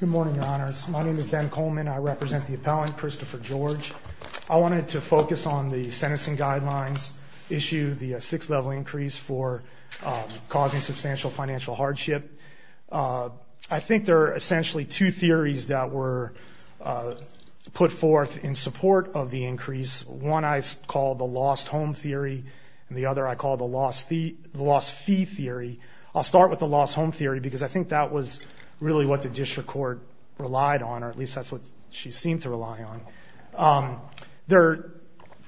Good morning, your honors. My name is Ben Coleman. I represent the appellant, Christopher George. I wanted to focus on the sentencing guidelines, issue the six-level increase for causing substantial financial hardship. I think there are essentially two theories that were put forth in support of the increase. One I call the lost home theory, and the other I call the lost fee theory. I'll start with the lost home theory because I think that was really what the district court relied on, or at least that's what she seemed to rely on. There are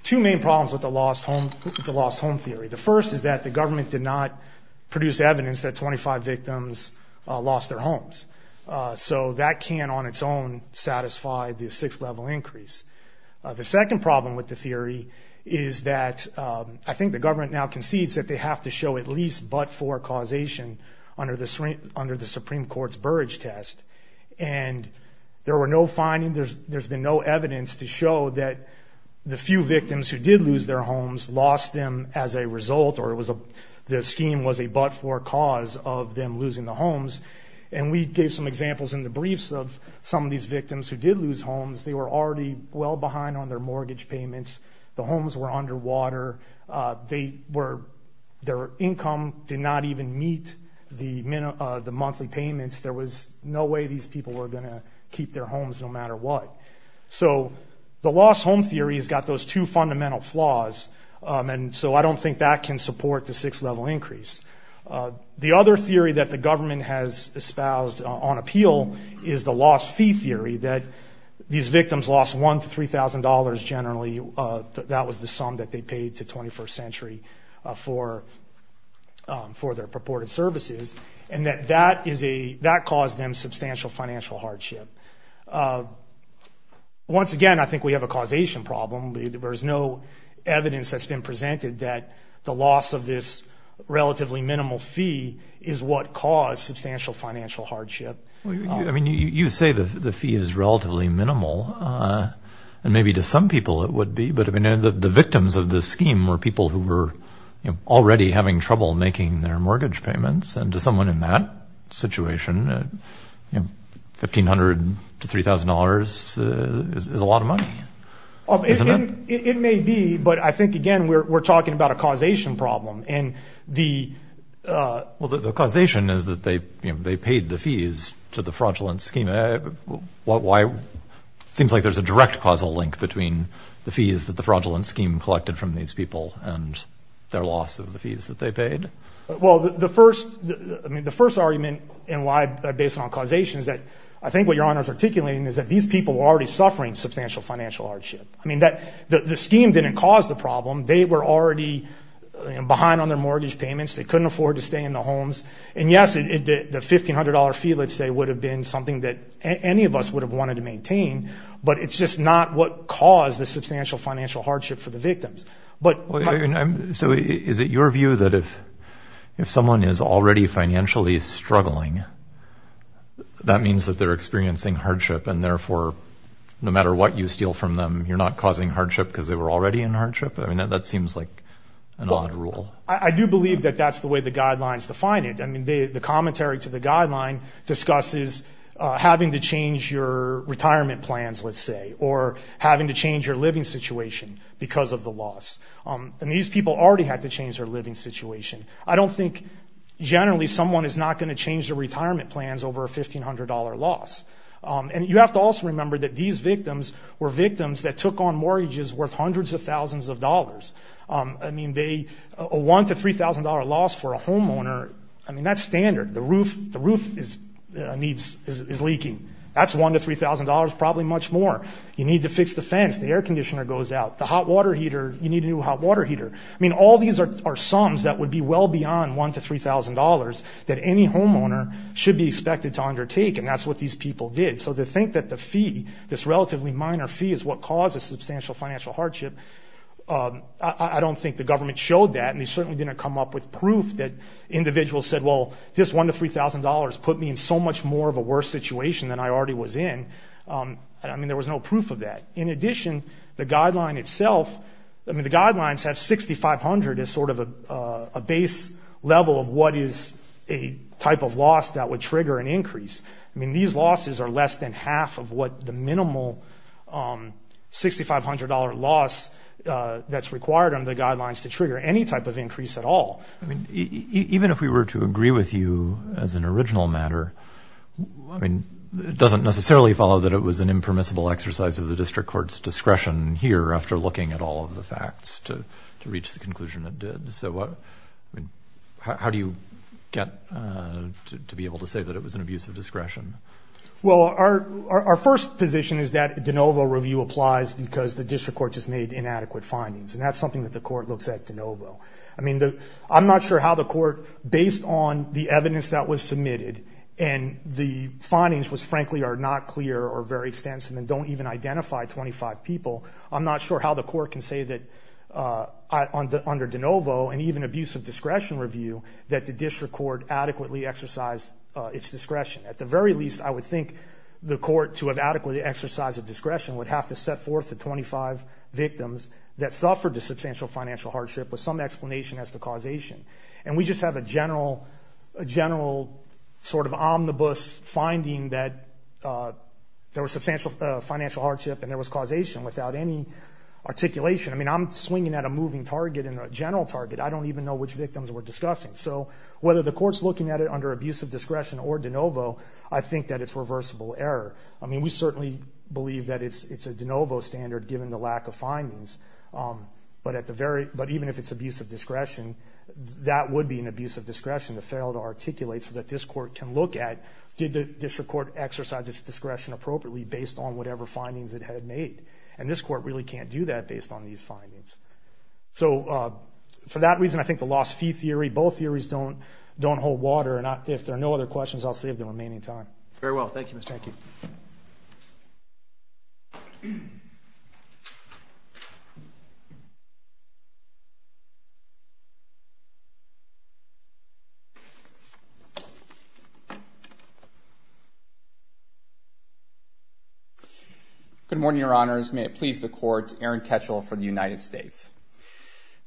two main problems with the lost home theory. The first is that the government did not produce evidence that 25 victims lost their homes, so that can on its own satisfy the six-level increase. The second problem with the theory is that I think the government now concedes that they have to show at least but-for causation under the Supreme Court's Burrage Test. And there were no findings, there's been no evidence to show that the few victims who did lose their homes lost them as a result, or the scheme was a but-for cause of them losing the homes. And we gave some examples in the briefs of some of these victims who did lose homes. They were already well behind on their mortgage payments. The homes were underwater. Their income did not even meet the monthly payments. There was no way these people were going to keep their homes no matter what. So the lost home theory has got those two fundamental flaws, and so I don't think that can support the six-level increase. The other theory that the government has espoused on appeal is the lost fee theory, that these victims lost $1,000 to $3,000 generally. That was the sum that they paid to 21st Century for their purported services, and that that caused them substantial financial hardship. Once again, I think we have a causation problem. There's no evidence that's been presented that the loss of this relatively minimal fee is what caused substantial financial hardship. You say the fee is relatively minimal, and maybe to some people it would be, but the victims of this scheme were people who were already having trouble making their mortgage payments, and to someone in that situation, $1,500 to $3,000 is a lot of money, isn't it? It may be, but I think, again, we're talking about a causation problem. Well, the causation is that they paid the fees to the fraudulent scheme. Why? It seems like there's a direct causal link between the fees that the fraudulent scheme collected from these people and their loss of the fees that they paid. Well, the first argument and why based on causation is that I think what Your Honor is articulating is that these people were already suffering substantial financial hardship. I mean, the scheme didn't cause the problem. They were already behind on their mortgage payments. They couldn't afford to stay in the homes. And yes, the $1,500 fee, let's say, would have been something that any of us would have wanted to maintain, but it's just not what caused the substantial financial hardship for the victims. So is it your view that if someone is already financially struggling, that means that they're experiencing hardship, and therefore, no matter what you steal from them, you're not causing hardship because they were already in hardship? I mean, that seems like an odd rule. I do believe that that's the way the guidelines define it. I mean, the commentary to the guideline discusses having to change your retirement plans, let's say, or having to change your living situation because of the loss. And these people already had to change their living situation. I don't think generally someone is not going to change their retirement plans over a $1,500 loss. And you have to also remember that these victims were victims that took on mortgages worth hundreds of thousands of dollars. I mean, a $1,000 to $3,000 loss for a homeowner, I mean, that's standard. The roof is leaking. That's $1,000 to $3,000, probably much more. You need to fix the fence. The air conditioner goes out. The hot water heater, you need a new hot water heater. I mean, all these are sums that would be well beyond $1,000 to $3,000 that any homeowner should be expected to undertake, and that's what these people did. So to think that the fee, this relatively minor fee, is what causes substantial financial hardship, I don't think the government showed that, and they certainly didn't come up with proof that individuals said, well, this $1,000 to $3,000 put me in so much more of a worse situation than I already was in. I mean, there was no proof of that. In addition, the guideline itself, I mean, the guidelines have $6,500 as sort of a base level of what is a type of loss that would trigger an increase. I mean, these losses are less than half of what the minimal $6,500 loss that's required under the guidelines to trigger any type of increase at all. I mean, even if we were to agree with you as an original matter, I mean, it doesn't necessarily follow that it was an impermissible exercise of the district court's discretion here after looking at all of the facts to reach the conclusion it did. So how do you get to be able to say that it was an abuse of discretion? Well, our first position is that de novo review applies because the district court just made inadequate findings, and that's something that the court looks at de novo. I mean, I'm not sure how the court, based on the evidence that was submitted and the findings frankly are not clear or very extensive and don't even identify 25 people, I'm not sure how the court can say that under de novo and even abuse of discretion review that the district court adequately exercised its discretion. At the very least, I would think the court, to have adequately exercised its discretion, would have to set forth the 25 victims that suffered a substantial financial hardship with some explanation as to causation. And we just have a general sort of omnibus finding that there was substantial financial hardship and there was causation without any articulation. I mean, I'm swinging at a moving target and a general target. I don't even know which victims we're discussing. So whether the court's looking at it under abuse of discretion or de novo, I think that it's reversible error. I mean, we certainly believe that it's a de novo standard given the lack of findings. But even if it's abuse of discretion, that would be an abuse of discretion to fail to articulate so that this court can look at did the district court exercise its discretion appropriately based on whatever findings it had made. And this court really can't do that based on these findings. So for that reason, I think the loss fee theory, both theories don't hold water. And if there are no other questions, I'll save the remaining time. Very well, thank you, Mr. Hanke. Good morning, Your Honors. May it please the Court, Aaron Ketchel for the United States.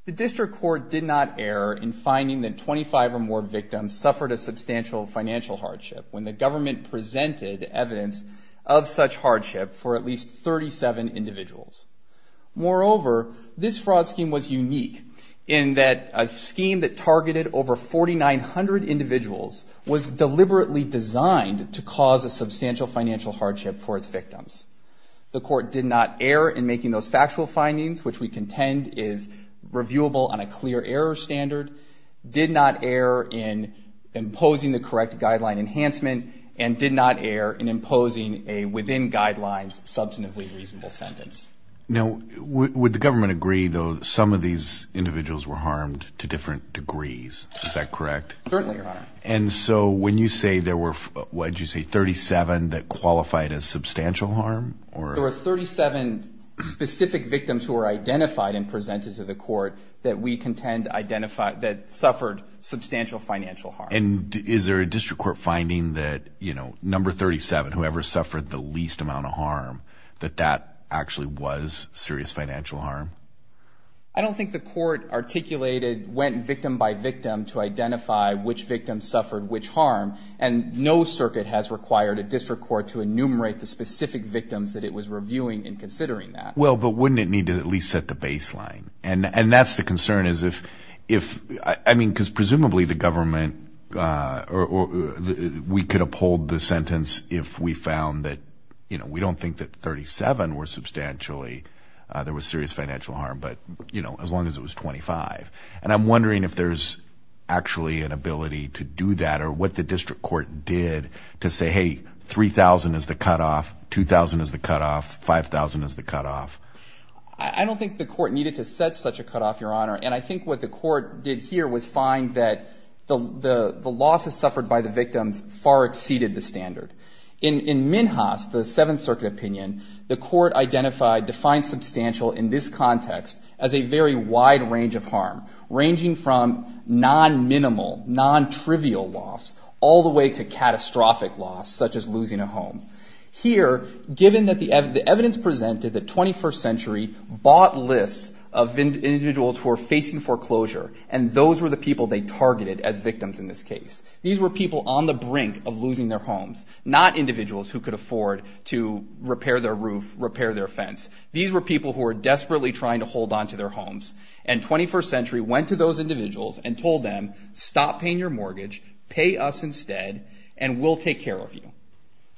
The district court did not err in finding that 25 or more victims suffered a substantial financial hardship when the government presented evidence of such hardship for at least 37 individuals. Moreover, this fraud scheme was unique in that a scheme that targeted over 4,900 individuals was deliberately designed to cause a substantial financial hardship for its victims. The court did not err in making those factual findings, which we contend is reviewable on a clear error standard, did not err in imposing the correct guideline enhancement, and did not err in imposing a within guidelines substantively reasonable sentence. Now, would the government agree, though, that some of these individuals were harmed to different degrees? Is that correct? Certainly, Your Honor. And so when you say there were, what did you say, 37 that qualified as substantial harm? There were 37 specific victims who were identified and presented to the court that we contend identified that suffered substantial financial harm. And is there a district court finding that, you know, number 37, whoever suffered the least amount of harm, that that actually was serious financial harm? I don't think the court articulated, went victim by victim to identify which victims suffered which harm, and no circuit has required a district court to enumerate the specific victims that it was reviewing and considering that. Well, but wouldn't it need to at least set the baseline? And that's the concern is if, I mean, because presumably the government, we could uphold the sentence if we found that, you know, we don't think that 37 were substantially, there was serious financial harm, but, you know, as long as it was 25. And I'm wondering if there's actually an ability to do that or what the district court did to say, hey, 3,000 is the cutoff, 2,000 is the cutoff, 5,000 is the cutoff. I don't think the court needed to set such a cutoff, Your Honor. And I think what the court did here was find that the losses suffered by the victims far exceeded the standard. In Minhas, the Seventh Circuit opinion, the court identified defined substantial in this context as a very wide range of harm, ranging from non-minimal, non-trivial loss, all the way to catastrophic loss, such as losing a home. Here, given that the evidence presented that 21st Century bought lists of individuals who were facing foreclosure, and those were the people they targeted as victims in this case. These were people on the brink of losing their homes, not individuals who could afford to repair their roof, repair their fence. These were people who were desperately trying to hold onto their homes. And 21st Century went to those individuals and told them, stop paying your mortgage, pay us instead, and we'll take care of you.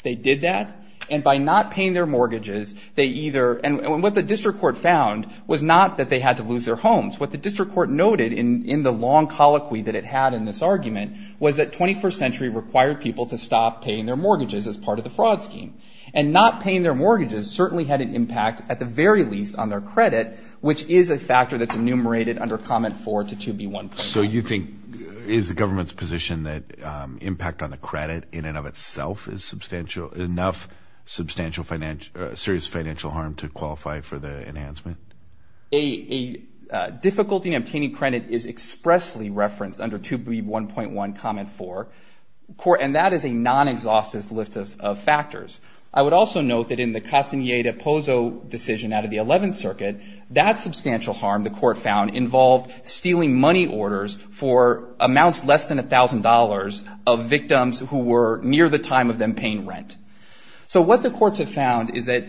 They did that, and by not paying their mortgages, they either, and what the district court found was not that they had to lose their homes. What the district court noted in the long colloquy that it had in this argument was that 21st Century required people to stop paying their mortgages as part of the fraud scheme. And not paying their mortgages certainly had an impact, at the very least, on their credit, which is a factor that's enumerated under Comment 4 to 2B1. So you think, is the government's position that impact on the credit in and of itself is substantial, enough substantial serious financial harm to qualify for the enhancement? A difficulty in obtaining credit is expressly referenced under 2B1.1 Comment 4, and that is a non-exhaustive list of factors. I would also note that in the Castaneda-Pozo decision out of the 11th Circuit, that substantial harm the court found involved stealing money orders for amounts less than $1,000 of victims who were near the time of them paying rent. So what the courts have found is that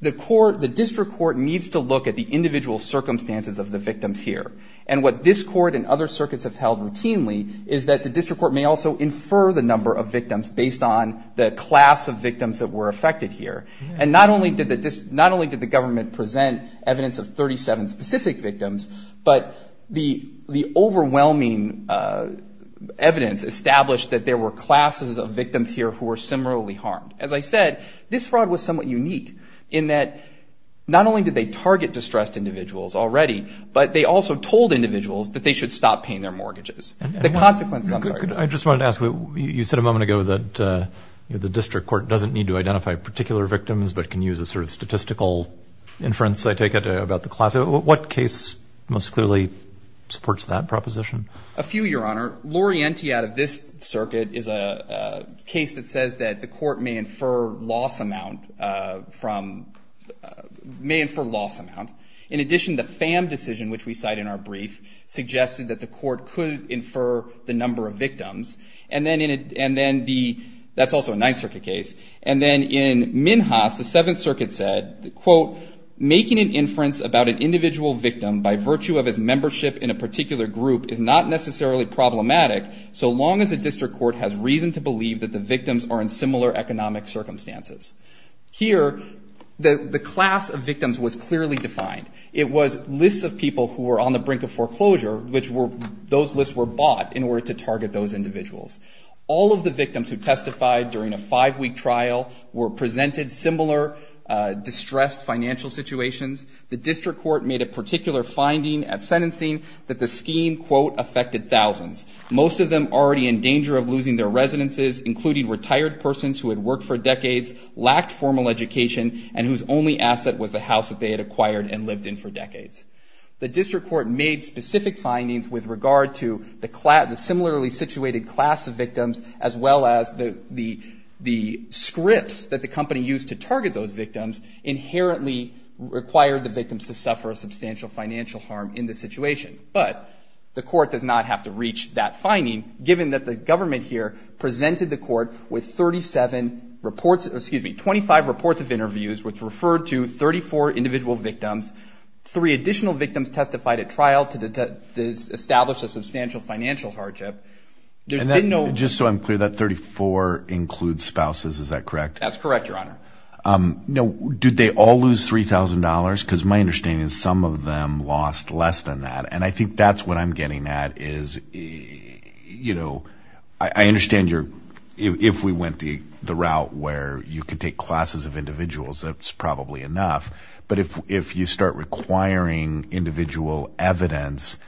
the court, the district court, needs to look at the individual circumstances of the victims here. And what this court and other circuits have held routinely is that the district court may also infer the number of victims based on the class of victims that were affected here. And not only did the government present evidence of 37 specific victims, but the overwhelming evidence established that there were classes of victims here who were similarly harmed. As I said, this fraud was somewhat unique in that not only did they target distressed individuals already, but they also told individuals that they should stop paying their mortgages. The consequences, I'm sorry. I just wanted to ask, you said a moment ago that the district court doesn't need to identify particular victims, but can use a sort of statistical inference, I take it, about the class. What case most clearly supports that proposition? A few, Your Honor. Lorienti out of this circuit is a case that says that the court may infer loss amount from, may infer loss amount. In addition, the Pham decision, which we cite in our brief, suggested that the court could infer the number of victims. And then the, that's also a Ninth Circuit case. And then in Minhas, the Seventh Circuit said, quote, making an inference about an individual victim by virtue of his membership in a particular group is not necessarily problematic so long as a district court has reason to believe that the victims are in similar economic circumstances. Here, the class of victims was clearly defined. It was lists of people who were on the brink of foreclosure, which were, those lists were bought in order to target those individuals. All of the victims who testified during a five-week trial were presented similar distressed financial situations. The district court made a particular finding at sentencing that the scheme, quote, affected thousands. Most of them already in danger of losing their residences, including retired persons who had worked for decades, lacked formal education, and whose only asset was the house that they had acquired and lived in for decades. The district court made specific findings with regard to the similarly situated class of victims, as well as the scripts that the company used to target those victims inherently required the victims to suffer a substantial financial harm in this situation. But the court does not have to reach that finding, given that the government here presented the court with 37 reports, excuse me, 25 reports of interviews, which referred to 34 individual victims, three additional victims testified at trial to establish a substantial financial hardship. There's been no- And just so I'm clear, that 34 includes spouses, is that correct? That's correct, Your Honor. Now, did they all lose $3,000? Because my understanding is some of them lost less than that, and I think that's what I'm getting at is, you know, I understand if we went the route where you could take classes of individuals, that's probably enough, but if you start requiring individual evidence,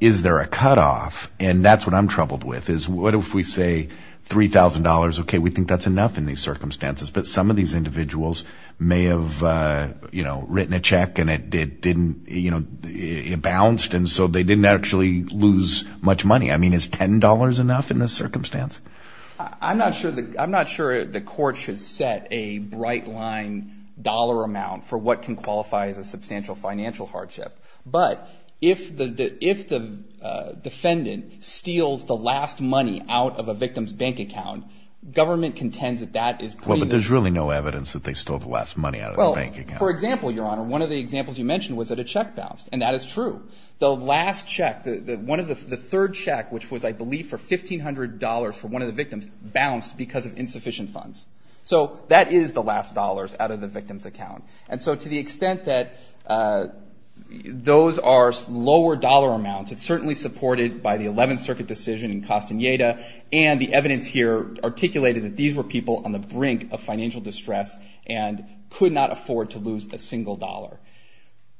is there a cutoff? And that's what I'm troubled with, is what if we say $3,000, okay, we think that's enough in these circumstances, but some of these individuals may have, you know, written a check and it didn't, you know, it bounced, and so they didn't actually lose much money. I mean, is $10 enough in this circumstance? I'm not sure the court should set a bright-line dollar amount for what can qualify as a substantial financial hardship, but if the defendant steals the last money out of a victim's bank account, government contends that that is pretty- Well, but there's really no evidence that they stole the last money out of the bank account. Well, for example, Your Honor, one of the examples you mentioned was that a check bounced, and that is true. The last check, the third check, which was, I believe, for $1,500 for one of the victims, bounced because of insufficient funds. So that is the last dollars out of the victim's account. And so to the extent that those are lower dollar amounts, it's certainly supported by the Eleventh Circuit decision in Castaneda, and the evidence here articulated that these were people on the brink of financial distress and could not afford to lose a single dollar.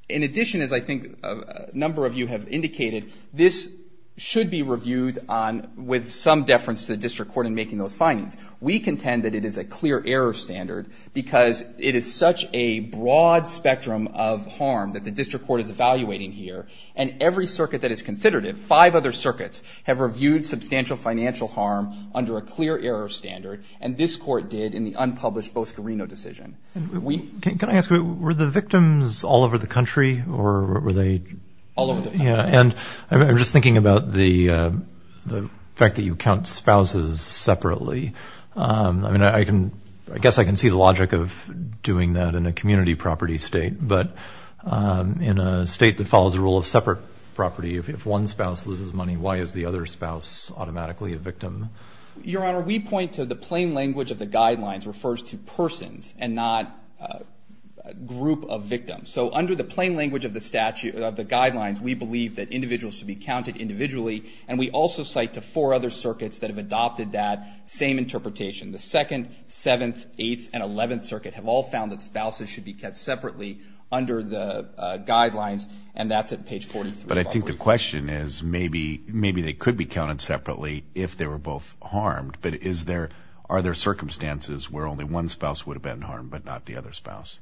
In addition, as I think a number of you have indicated, this should be reviewed with some deference to the district court in making those findings. We contend that it is a clear error standard because it is such a broad spectrum of harm that the district court is evaluating here, and every circuit that has considered it, five other circuits, have reviewed substantial financial harm under a clear error standard, and this court did in the unpublished Bosco Reno decision. Can I ask, were the victims all over the country, or were they? All over the country. And I'm just thinking about the fact that you count spouses separately. I mean, I guess I can see the logic of doing that in a community property state, but in a state that follows a rule of separate property, if one spouse loses money, why is the other spouse automatically a victim? Your Honor, we point to the plain language of the guidelines refers to persons and not group of victims. So under the plain language of the guidelines, we believe that individuals should be counted individually, and we also cite the four other circuits that have adopted that same interpretation. The 2nd, 7th, 8th, and 11th Circuit have all found that spouses should be kept separately under the guidelines, and that's at page 43. But I think the question is maybe they could be counted separately if they were both harmed, but are there circumstances where only one spouse would have been harmed but not the other spouse?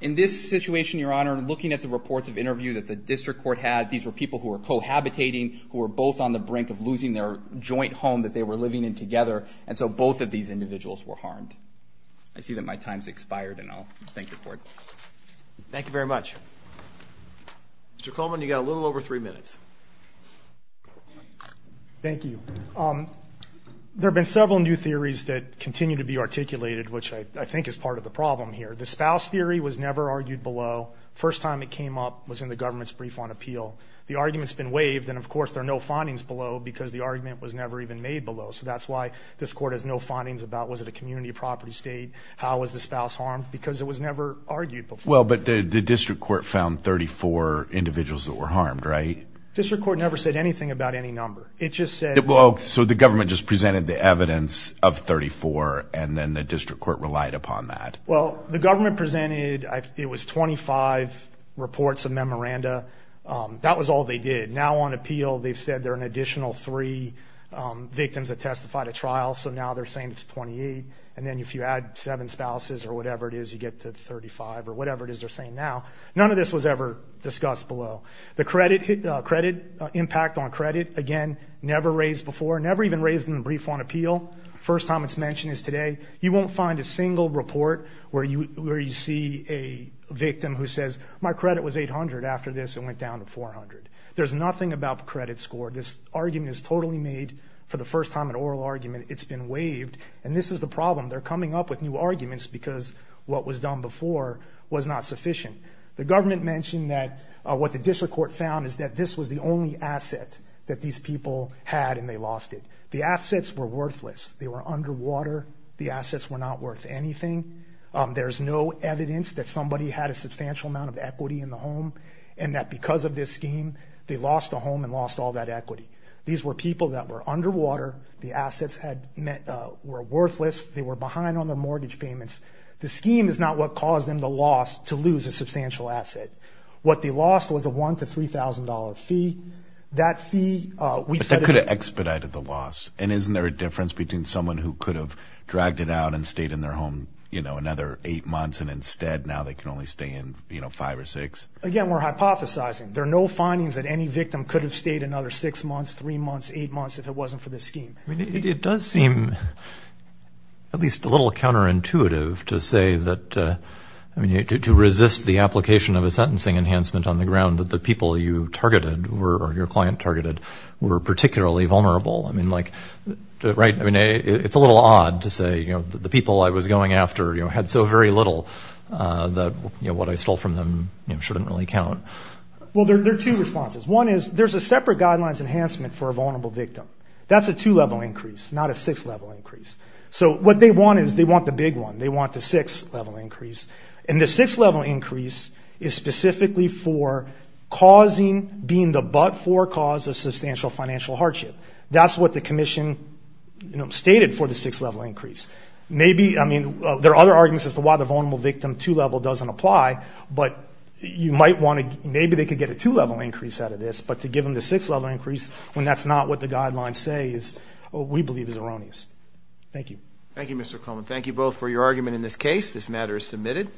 In this situation, Your Honor, looking at the reports of interview that the district court had, these were people who were cohabitating, who were both on the brink of losing their joint home that they were living in together, and so both of these individuals were harmed. I see that my time has expired, and I'll thank the Court. Thank you very much. Mr. Coleman, you've got a little over three minutes. Thank you. There have been several new theories that continue to be articulated, which I think is part of the problem here. The spouse theory was never argued below. First time it came up was in the government's brief on appeal. The argument's been waived, and, of course, there are no findings below because the argument was never even made below, so that's why this Court has no findings about was it a community property state, how was the spouse harmed, because it was never argued before. Well, but the district court found 34 individuals that were harmed, right? District court never said anything about any number. So the government just presented the evidence of 34, and then the district court relied upon that. Well, the government presented it was 25 reports of memoranda. That was all they did. Now on appeal they've said there are an additional three victims that testified at trial, so now they're saying it's 28, and then if you add seven spouses or whatever it is, you get to 35 or whatever it is they're saying now. None of this was ever discussed below. The credit impact on credit, again, never raised before, never even raised in the brief on appeal. First time it's mentioned is today. You won't find a single report where you see a victim who says, my credit was 800 after this and went down to 400. There's nothing about the credit score. This argument is totally made for the first time an oral argument. It's been waived, and this is the problem. They're coming up with new arguments because what was done before was not sufficient. The government mentioned that what the district court found is that this was the only asset that these people had and they lost it. The assets were worthless. They were underwater. The assets were not worth anything. There's no evidence that somebody had a substantial amount of equity in the home and that because of this scheme they lost a home and lost all that equity. These were people that were underwater. The assets were worthless. They were behind on their mortgage payments. The scheme is not what caused them the loss to lose a substantial asset. What they lost was a $1,000 to $3,000 fee. That fee, we said it. But that could have expedited the loss, and isn't there a difference between someone who could have dragged it out and stayed in their home another eight months and instead now they can only stay in five or six? Again, we're hypothesizing. There are no findings that any victim could have stayed another six months, three months, eight months if it wasn't for this scheme. It does seem at least a little counterintuitive to say that to resist the application of a sentencing enhancement on the ground that the people you targeted or your client targeted were particularly vulnerable. It's a little odd to say the people I was going after had so very little that what I stole from them shouldn't really count. Well, there are two responses. One is there's a separate guidelines enhancement for a vulnerable victim. That's a two-level increase, not a six-level increase. So what they want is they want the big one. They want the six-level increase. And the six-level increase is specifically for causing, being the but-for cause of substantial financial hardship. That's what the commission stated for the six-level increase. There are other arguments as to why the vulnerable victim two-level doesn't apply, but maybe they could get a two-level increase out of this, but to give them the six-level increase when that's not what the guidelines say we believe is erroneous. Thank you. Thank you, Mr. Coleman. Thank you both for your argument in this case. This matter is submitted.